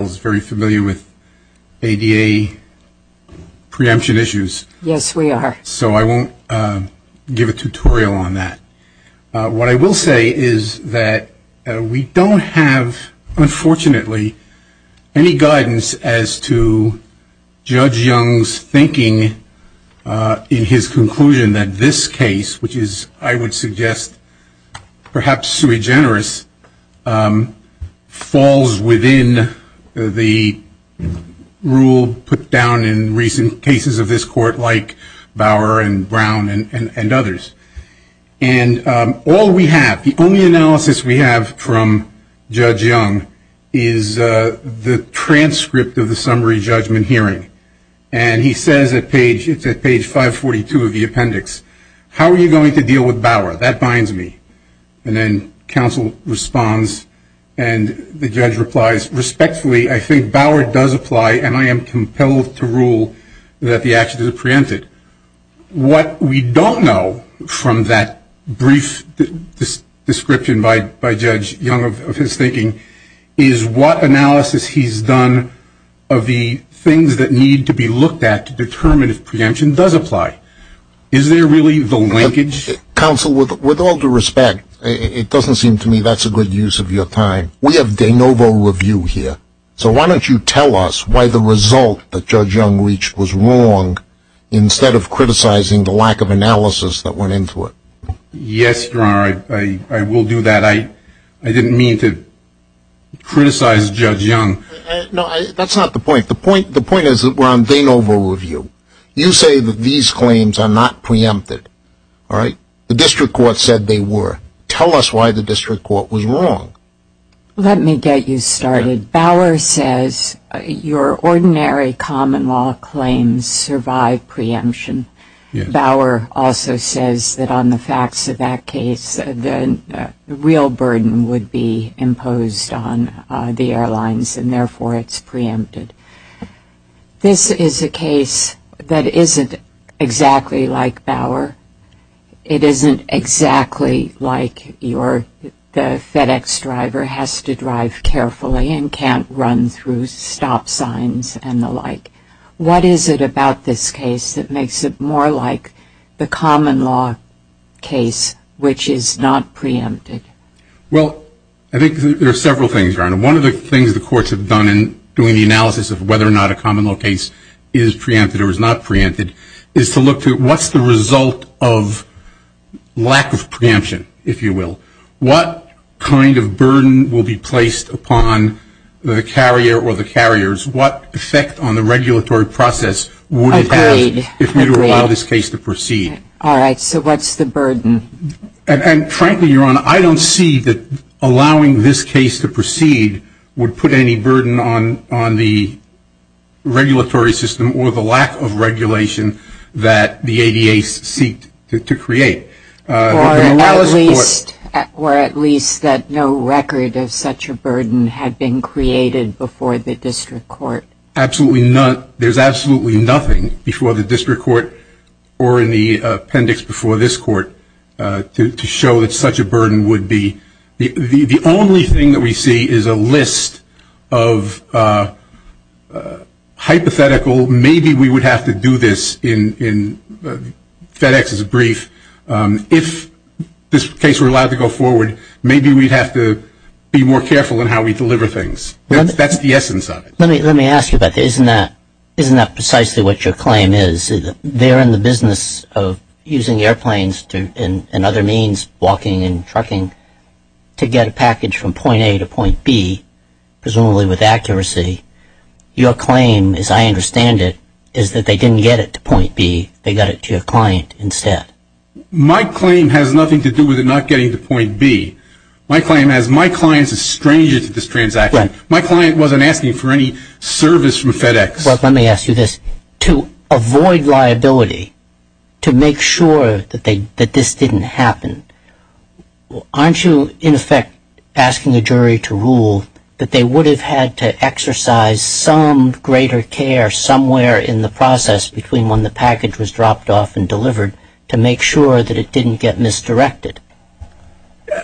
is very familiar with ADA preemption issues. Yes, we are. So I won't give a tutorial on that. What I will say is that we don't have, unfortunately, any guidance as to Judge Young's thinking in his conclusion that this case, which is, I would suggest, perhaps sui generis, falls within the rule put down in recent cases of this Court, like Bauer and Brown and others. And all we have, the only analysis we have from Judge Young, is the transcript of the summary judgment hearing. And he says at page 542 of the appendix, how are you going to deal with Bauer? That binds me. And then counsel responds, and the judge replies, respectfully, I think Bauer does apply, and I am compelled to rule that the action is preempted. What we don't know from that brief description by Judge Young of his thinking is what analysis he's done of the things that need to be looked at to determine if preemption does apply. Is there really the linkage? Counsel, with all due respect, it doesn't seem to me that's a good use of your time. We have de novo review here, so why don't you tell us why the result that Judge Young reached was wrong, instead of criticizing the lack of analysis that went into it. Yes, Your Honor, I will do that. I didn't mean to criticize Judge Young. No, that's not the point. The point is that we're on de novo review. You say that these claims are not preempted. The district court said they were. Tell us why the district court was wrong. Let me get you started. Bauer says your ordinary common law claims survive preemption. Bauer also says that on the facts of that case, the real burden would be imposed on the airlines, and therefore it's preempted. This is a case that isn't exactly like Bauer. It isn't exactly like the FedEx driver has to drive carefully and can't run through stop signs and the like. What is it about this case that makes it more like the common law case, which is not preempted? One of the things the courts have done in doing the analysis of whether or not a common law case is preempted or is not preempted is to look to what's the result of lack of preemption, if you will. What kind of burden will be placed upon the carrier or the carriers? What effect on the regulatory process would it have if we were to allow this case to proceed? All right, so what's the burden? Frankly, Your Honor, I don't see that allowing this case to proceed would put any burden on the regulatory system or the lack of regulation that the ADA seeked to create. Or at least that no record of such a burden had been created before the district court. Absolutely not. There's absolutely nothing before the district court or in the appendix before this court to show that such a burden would be. The only thing that we see is a list of hypothetical, maybe we would have to do this in FedEx's brief. If this case were allowed to go forward, maybe we'd have to be more careful in how we deliver things. That's the essence of it. Let me ask you about this. Isn't that precisely what your claim is? They're in the business of using airplanes and other means, walking and trucking, to get a package from point A to point B, presumably with accuracy. Your claim, as I understand it, is that they didn't get it to point B. They got it to your client instead. My claim has nothing to do with it not getting to point B. My claim is my client is a stranger to this transaction. My client wasn't asking for any service from FedEx. Let me ask you this. To avoid liability, to make sure that this didn't happen, aren't you, in effect, asking a jury to rule that they would have had to exercise some greater care somewhere in the process between when the package was dropped off and delivered to make sure that it didn't get misdirected?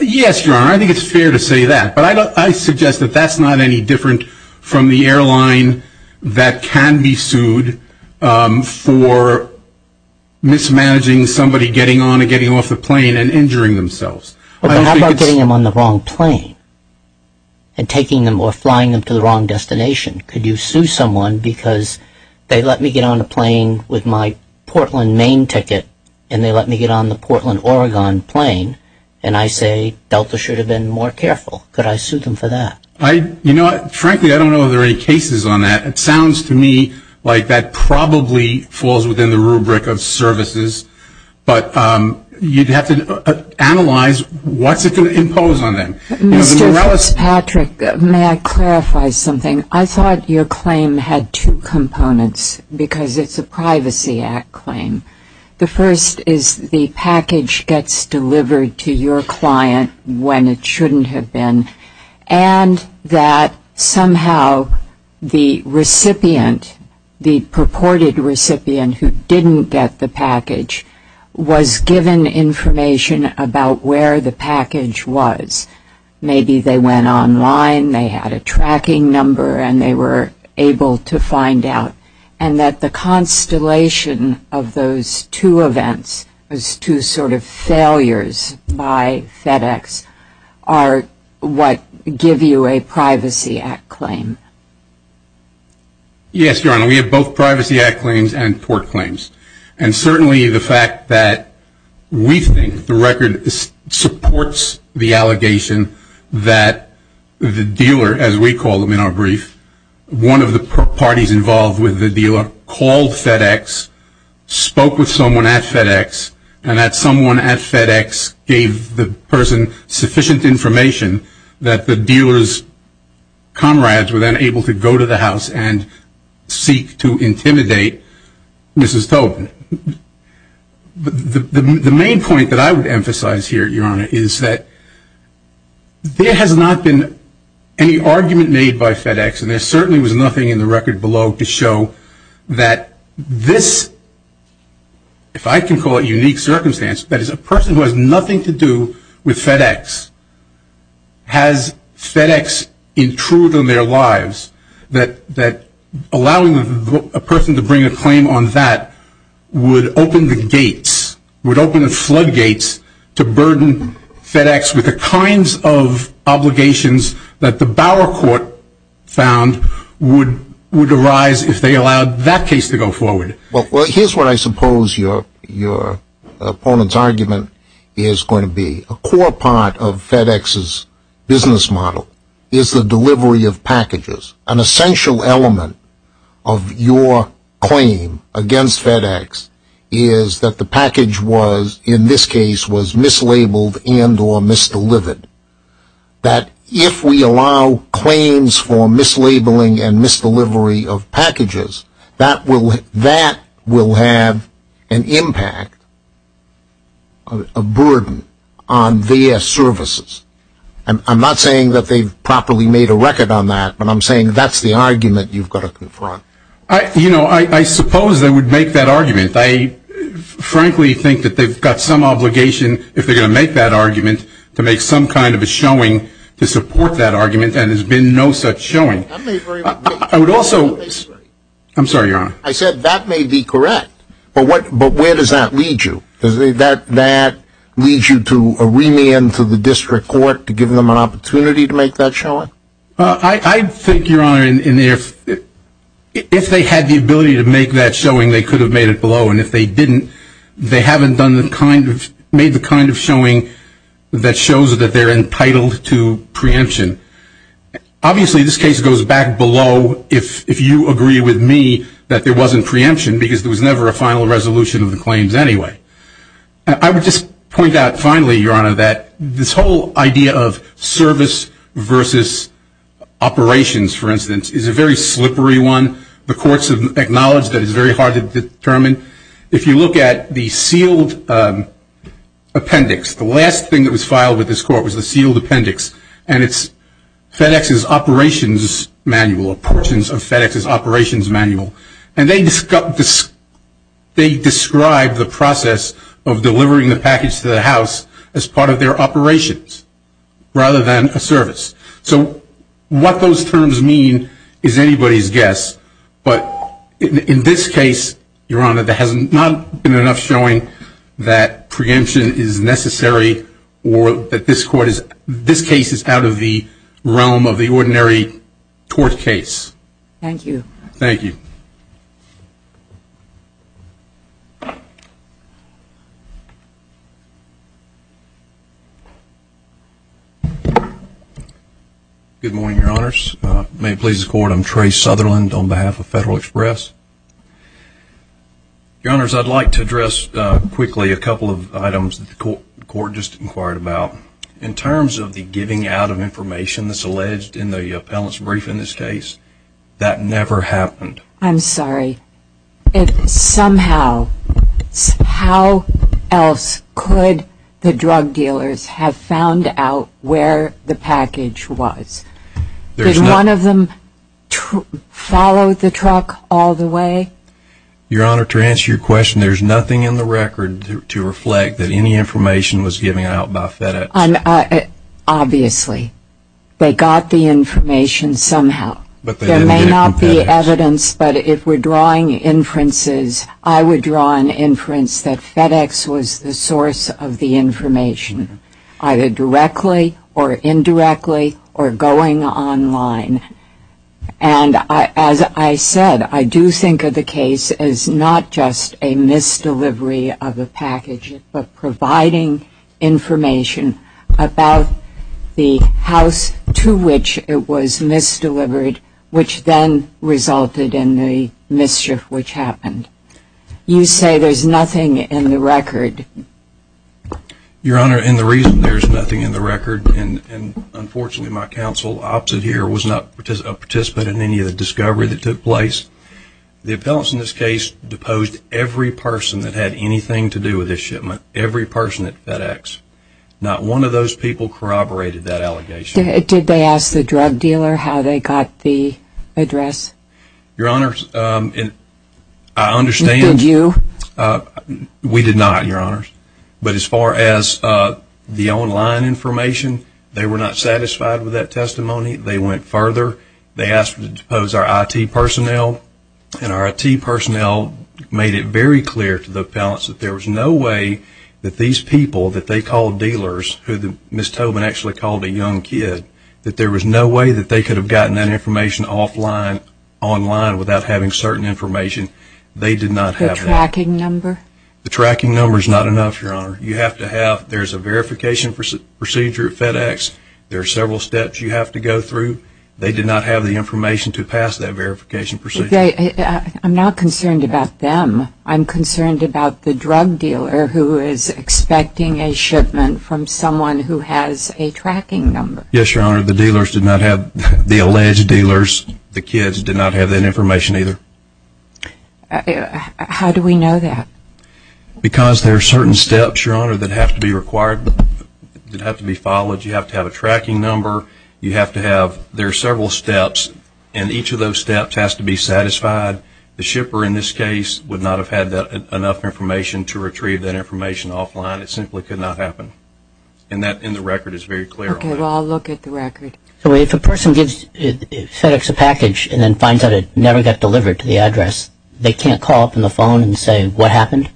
Yes, Your Honor. I think it's fair to say that. But I suggest that that's not any different from the airline that can be sued for mismanaging somebody getting on and getting off the plane and injuring themselves. How about getting them on the wrong plane and taking them or flying them to the wrong destination? Could you sue someone because they let me get on a plane with my Portland, Maine ticket, and they let me get on the Portland, Oregon plane, and I say Delta should have been more careful? Could I sue them for that? You know what? Frankly, I don't know if there are any cases on that. It sounds to me like that probably falls within the rubric of services. But you'd have to analyze what's it going to impose on them. Mr. Fitzpatrick, may I clarify something? I thought your claim had two components because it's a Privacy Act claim. The first is the package gets delivered to your client when it shouldn't have been and that somehow the recipient, the purported recipient who didn't get the package, was given information about where the package was. Maybe they went online, they had a tracking number, and they were able to find out. And that the constellation of those two events, those two sort of failures by FedEx, are what give you a Privacy Act claim. Yes, Your Honor. We have both Privacy Act claims and tort claims. And certainly the fact that we think the record supports the allegation that the dealer, as we call them in our brief, one of the parties involved with the dealer called FedEx, spoke with someone at FedEx, and that someone at FedEx gave the person sufficient information that the dealer's comrades were then able to go to the house and seek to intimidate Mrs. Tobin. The main point that I would emphasize here, Your Honor, is that there has not been any argument made by FedEx, and there certainly was nothing in the record below to show that this, if I can call it unique circumstance, that is a person who has nothing to do with FedEx, has FedEx intruded on their lives, that allowing a person to bring a claim on that would open the gates, would open the floodgates to burden FedEx with the kinds of obligations that the Bauer court found would arise if they allowed that case to go forward. Well, here's what I suppose your opponent's argument is going to be. A core part of FedEx's business model is the delivery of packages. An essential element of your claim against FedEx is that the package was, in this case, was mislabeled and or misdelivered. That if we allow claims for mislabeling and misdelivery of packages, that will have an impact, a burden, on their services. And I'm not saying that they've properly made a record on that, but I'm saying that's the argument you've got to confront. You know, I suppose they would make that argument. I frankly think that they've got some obligation, if they're going to make that argument, to make some kind of a showing to support that argument, and there's been no such showing. I would also – I'm sorry, Your Honor. I said that may be correct, but where does that lead you? Does that lead you to a remand to the district court to give them an opportunity to make that showing? I think, Your Honor, if they had the ability to make that showing, they could have made it below, and if they didn't, they haven't made the kind of showing that shows that they're entitled to preemption. Obviously, this case goes back below if you agree with me that there wasn't preemption, because there was never a final resolution of the claims anyway. I would just point out finally, Your Honor, that this whole idea of service versus operations, for instance, is a very slippery one. The courts have acknowledged that it's very hard to determine. If you look at the sealed appendix, the last thing that was filed with this court was the sealed appendix, and it's FedEx's operations manual or portions of FedEx's operations manual, and they describe the process of delivering the package to the house as part of their operations rather than a service. So what those terms mean is anybody's guess, but in this case, Your Honor, there has not been enough showing that preemption is necessary or that this case is out of the realm of the ordinary court case. Thank you. Thank you. Good morning, Your Honors. May it please the court, I'm Trey Sutherland on behalf of Federal Express. Your Honors, I'd like to address quickly a couple of items that the court just inquired about. In terms of the giving out of information that's alleged in the appellant's brief in this case, that never happened. I'm sorry. If somehow, how else could the drug dealers have found out where the package was? Did one of them follow the truck all the way? Your Honor, to answer your question, there's nothing in the record to reflect that any information was given out by FedEx. Obviously. They got the information somehow. There may not be evidence, but if we're drawing inferences, I would draw an inference that FedEx was the source of the information, either directly or indirectly or going online. And as I said, I do think of the case as not just a misdelivery of a package, but providing information about the house to which it was misdelivered, which then resulted in the mischief which happened. You say there's nothing in the record. Your Honor, and the reason there's nothing in the record, and unfortunately my counsel opted here, was not a participant in any of the discovery that took place. The appellants in this case deposed every person that had anything to do with this shipment. Every person at FedEx. Not one of those people corroborated that allegation. Did they ask the drug dealer how they got the address? Your Honor, I understand. Did you? We did not, Your Honor. But as far as the online information, they were not satisfied with that testimony. They went further. They asked to depose our IT personnel, and our IT personnel made it very clear to the appellants that there was no way that these people that they called dealers, who Ms. Tobin actually called a young kid, that there was no way that they could have gotten that information offline, online, without having certain information. They did not have that. The tracking number? The tracking number is not enough, Your Honor. You have to have, there's a verification procedure at FedEx. There are several steps you have to go through. They did not have the information to pass that verification procedure. I'm not concerned about them. I'm concerned about the drug dealer who is expecting a shipment from someone who has a tracking number. Yes, Your Honor. The dealers did not have, the alleged dealers, the kids, did not have that information either. How do we know that? Because there are certain steps, Your Honor, that have to be required, that have to be followed. You have to have a tracking number. You have to have, there are several steps, and each of those steps has to be satisfied. The shipper, in this case, would not have had enough information to retrieve that information offline. It simply could not happen. And that, in the record, is very clear on that. Okay, well, I'll look at the record. So if a person gives FedEx a package and then finds out it never got delivered to the address, they can't call up on the phone and say, what happened?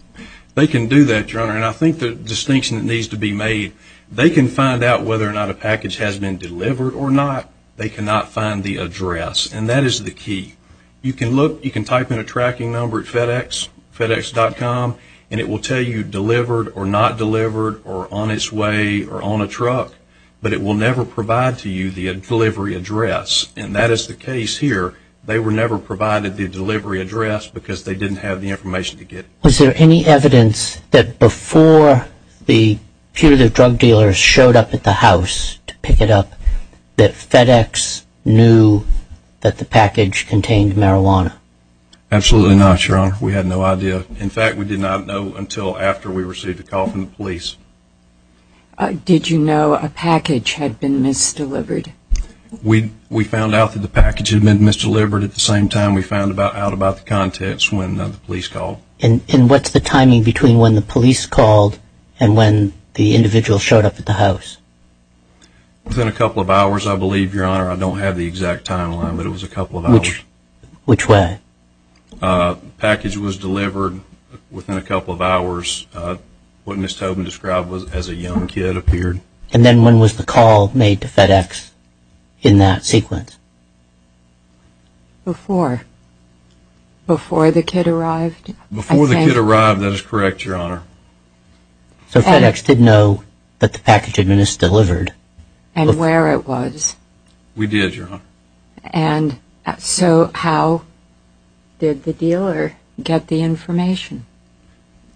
They can do that, Your Honor, and I think the distinction that needs to be made, they can find out whether or not a package has been delivered or not. They cannot find the address, and that is the key. You can look, you can type in a tracking number at FedEx, FedEx.com, and it will tell you delivered or not delivered or on its way or on a truck, but it will never provide to you the delivery address, and that is the case here. They were never provided the delivery address because they didn't have the information to get it. Was there any evidence that before the punitive drug dealers showed up at the house to pick it up, that FedEx knew that the package contained marijuana? Absolutely not, Your Honor. We had no idea. In fact, we did not know until after we received a call from the police. Did you know a package had been misdelivered? We found out that the package had been misdelivered at the same time we found out about the contents And what's the timing between when the police called and when the individual showed up at the house? Within a couple of hours, I believe, Your Honor. I don't have the exact timeline, but it was a couple of hours. Which way? The package was delivered within a couple of hours. What Ms. Tobin described was as a young kid appeared. And then when was the call made to FedEx in that sequence? Before. Before the kid arrived? Before the kid arrived, that is correct, Your Honor. So FedEx did know that the package had been misdelivered? And where it was. We did, Your Honor. And so how did the dealer get the information?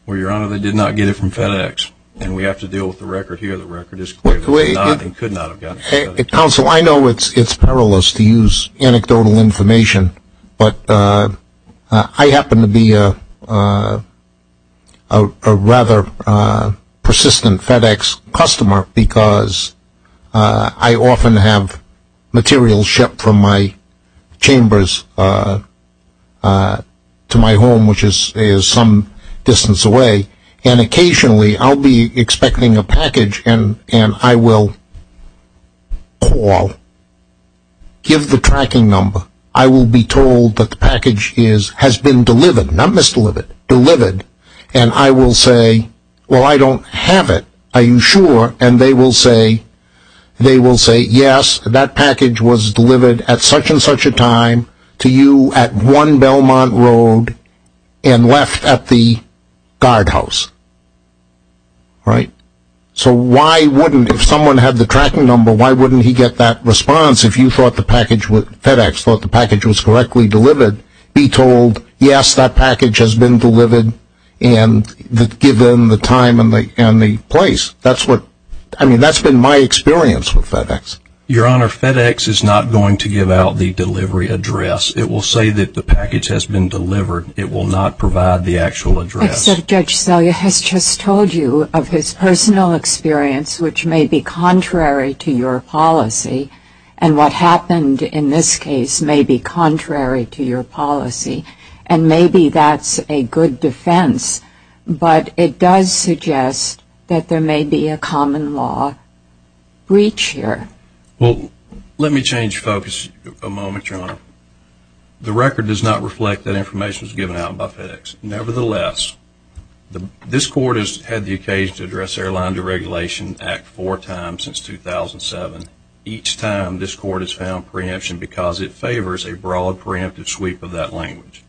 Well, Your Honor, they did not get it from FedEx. And we have to deal with the record here. The record is clear. They could not have gotten it from FedEx. Counsel, I know it's perilous to use anecdotal information, but I happen to be a rather persistent FedEx customer because I often have materials shipped from my chambers to my home, which is some distance away. And occasionally I'll be expecting a package and I will call, give the tracking number. I will be told that the package has been delivered, not misdelivered, delivered. And I will say, well, I don't have it. Are you sure? And they will say, yes, that package was delivered at such and such a time to you at 1 Belmont Road and left at the guardhouse, right? So why wouldn't, if someone had the tracking number, why wouldn't he get that response if you thought the package was, FedEx thought the package was correctly delivered, be told, yes, that package has been delivered and given the time and the place. That's what, I mean, that's been my experience with FedEx. Your Honor, FedEx is not going to give out the delivery address. It will say that the package has been delivered. It will not provide the actual address. Except Judge Selye has just told you of his personal experience, which may be contrary to your policy, and what happened in this case may be contrary to your policy. And maybe that's a good defense, but it does suggest that there may be a common law breach here. Well, let me change focus a moment, Your Honor. The record does not reflect that information was given out by FedEx. Nevertheless, this Court has had the occasion to address the Airline Deregulation Act four times since 2007. Each time this Court has found preemption because it favors a broad preemptive sweep of that language.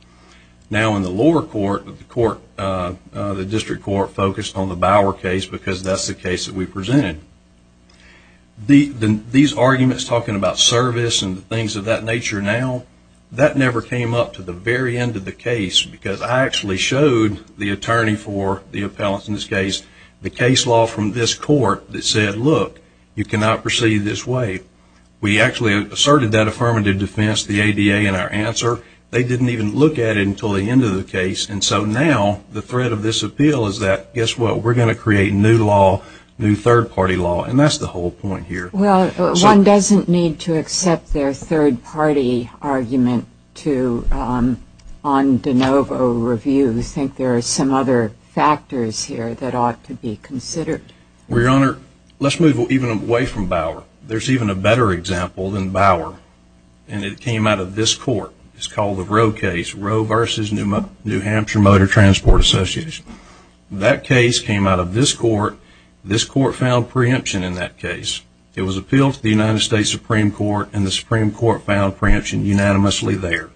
Now in the lower court, the District Court focused on the Bower case because that's the case that we presented. These arguments talking about service and things of that nature now, that never came up to the very end of the case because I actually showed the attorney for the appellants in this case the case law from this court that said, look, you cannot proceed this way. We actually asserted that affirmative defense, the ADA, in our answer. They didn't even look at it until the end of the case. And so now the threat of this appeal is that, guess what? We're going to create new law, new third-party law, and that's the whole point here. Well, one doesn't need to accept their third-party argument on de novo review. I think there are some other factors here that ought to be considered. Well, Your Honor, let's move even away from Bower. There's even a better example than Bower, and it came out of this court. It's called the Roe case, Roe v. New Hampshire Motor Transport Association. That case came out of this court. This court found preemption in that case. It was appealed to the United States Supreme Court, and the Supreme Court found preemption unanimously there.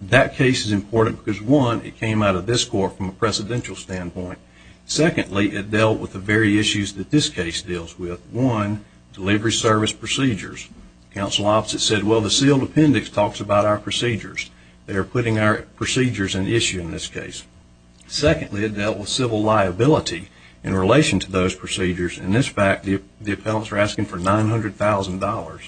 That case is important because, one, it came out of this court from a presidential standpoint. Secondly, it dealt with the very issues that this case deals with. One, delivery service procedures. The counsel opposite said, well, the sealed appendix talks about our procedures. They are putting our procedures in issue in this case. Secondly, it dealt with civil liability in relation to those procedures. In this fact, the appellants are asking for $900,000.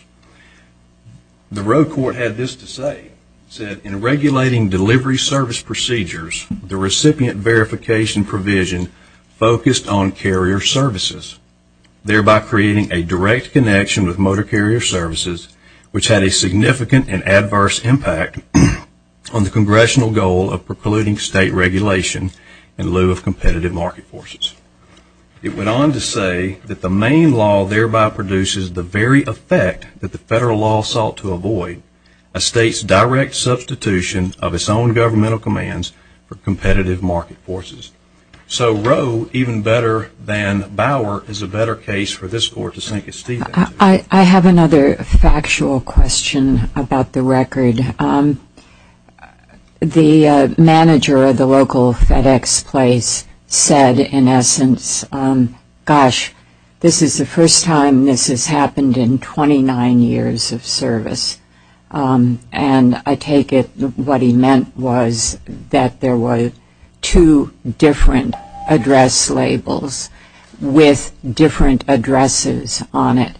The Roe court had this to say. It said, in regulating delivery service procedures, the recipient verification provision focused on carrier services, thereby creating a direct connection with motor carrier services, which had a significant and adverse impact on the congressional goal of precluding state regulation in lieu of competitive market forces. It went on to say that the main law thereby produces the very effect that the federal law sought to avoid, a state's direct substitution of its own governmental commands for competitive market forces. So Roe, even better than Bauer, is a better case for this court to sink its teeth into. I have another factual question about the record. The manager of the local FedEx place said, in essence, gosh, this is the first time this has happened in 29 years of service. And I take it what he meant was that there were two different address labels with different addresses on it.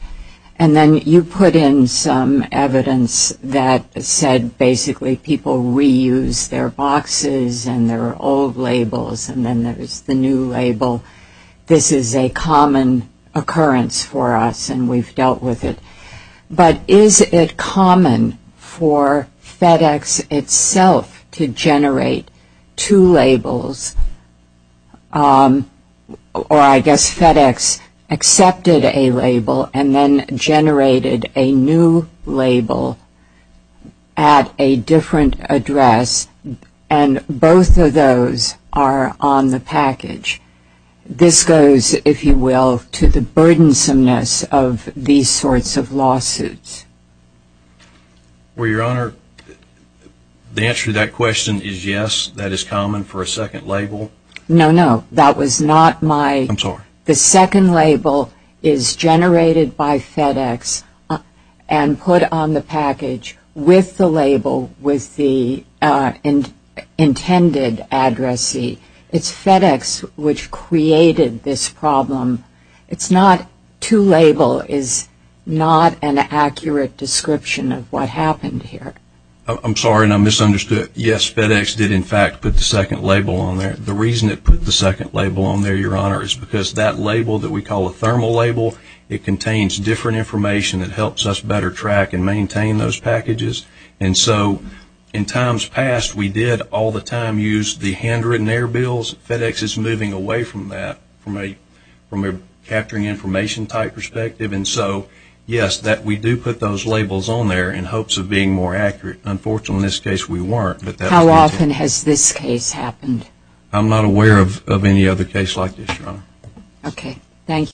And then you put in some evidence that said basically people reuse their boxes and their old labels and then there's the new label. This is a common occurrence for us, and we've dealt with it. But is it common for FedEx itself to generate two labels, or I guess FedEx accepted a label and then generated a new label at a different address, and both of those are on the package? This goes, if you will, to the burdensomeness of these sorts of lawsuits. Well, Your Honor, the answer to that question is yes, that is common for a second label. No, no, that was not my – I'm sorry. The second label is generated by FedEx and put on the package with the label with the intended addressee. It's FedEx which created this problem. It's not – two label is not an accurate description of what happened here. I'm sorry, and I misunderstood. Yes, FedEx did in fact put the second label on there. The reason it put the second label on there, Your Honor, is because that label that we call a thermal label, it contains different information. It helps us better track and maintain those packages. And so in times past, we did all the time use the handwritten error bills. FedEx is moving away from that from a capturing information type perspective. And so, yes, we do put those labels on there in hopes of being more accurate. Unfortunately, in this case, we weren't. How often has this case happened? I'm not aware of any other case like this, Your Honor. Okay. Thank you.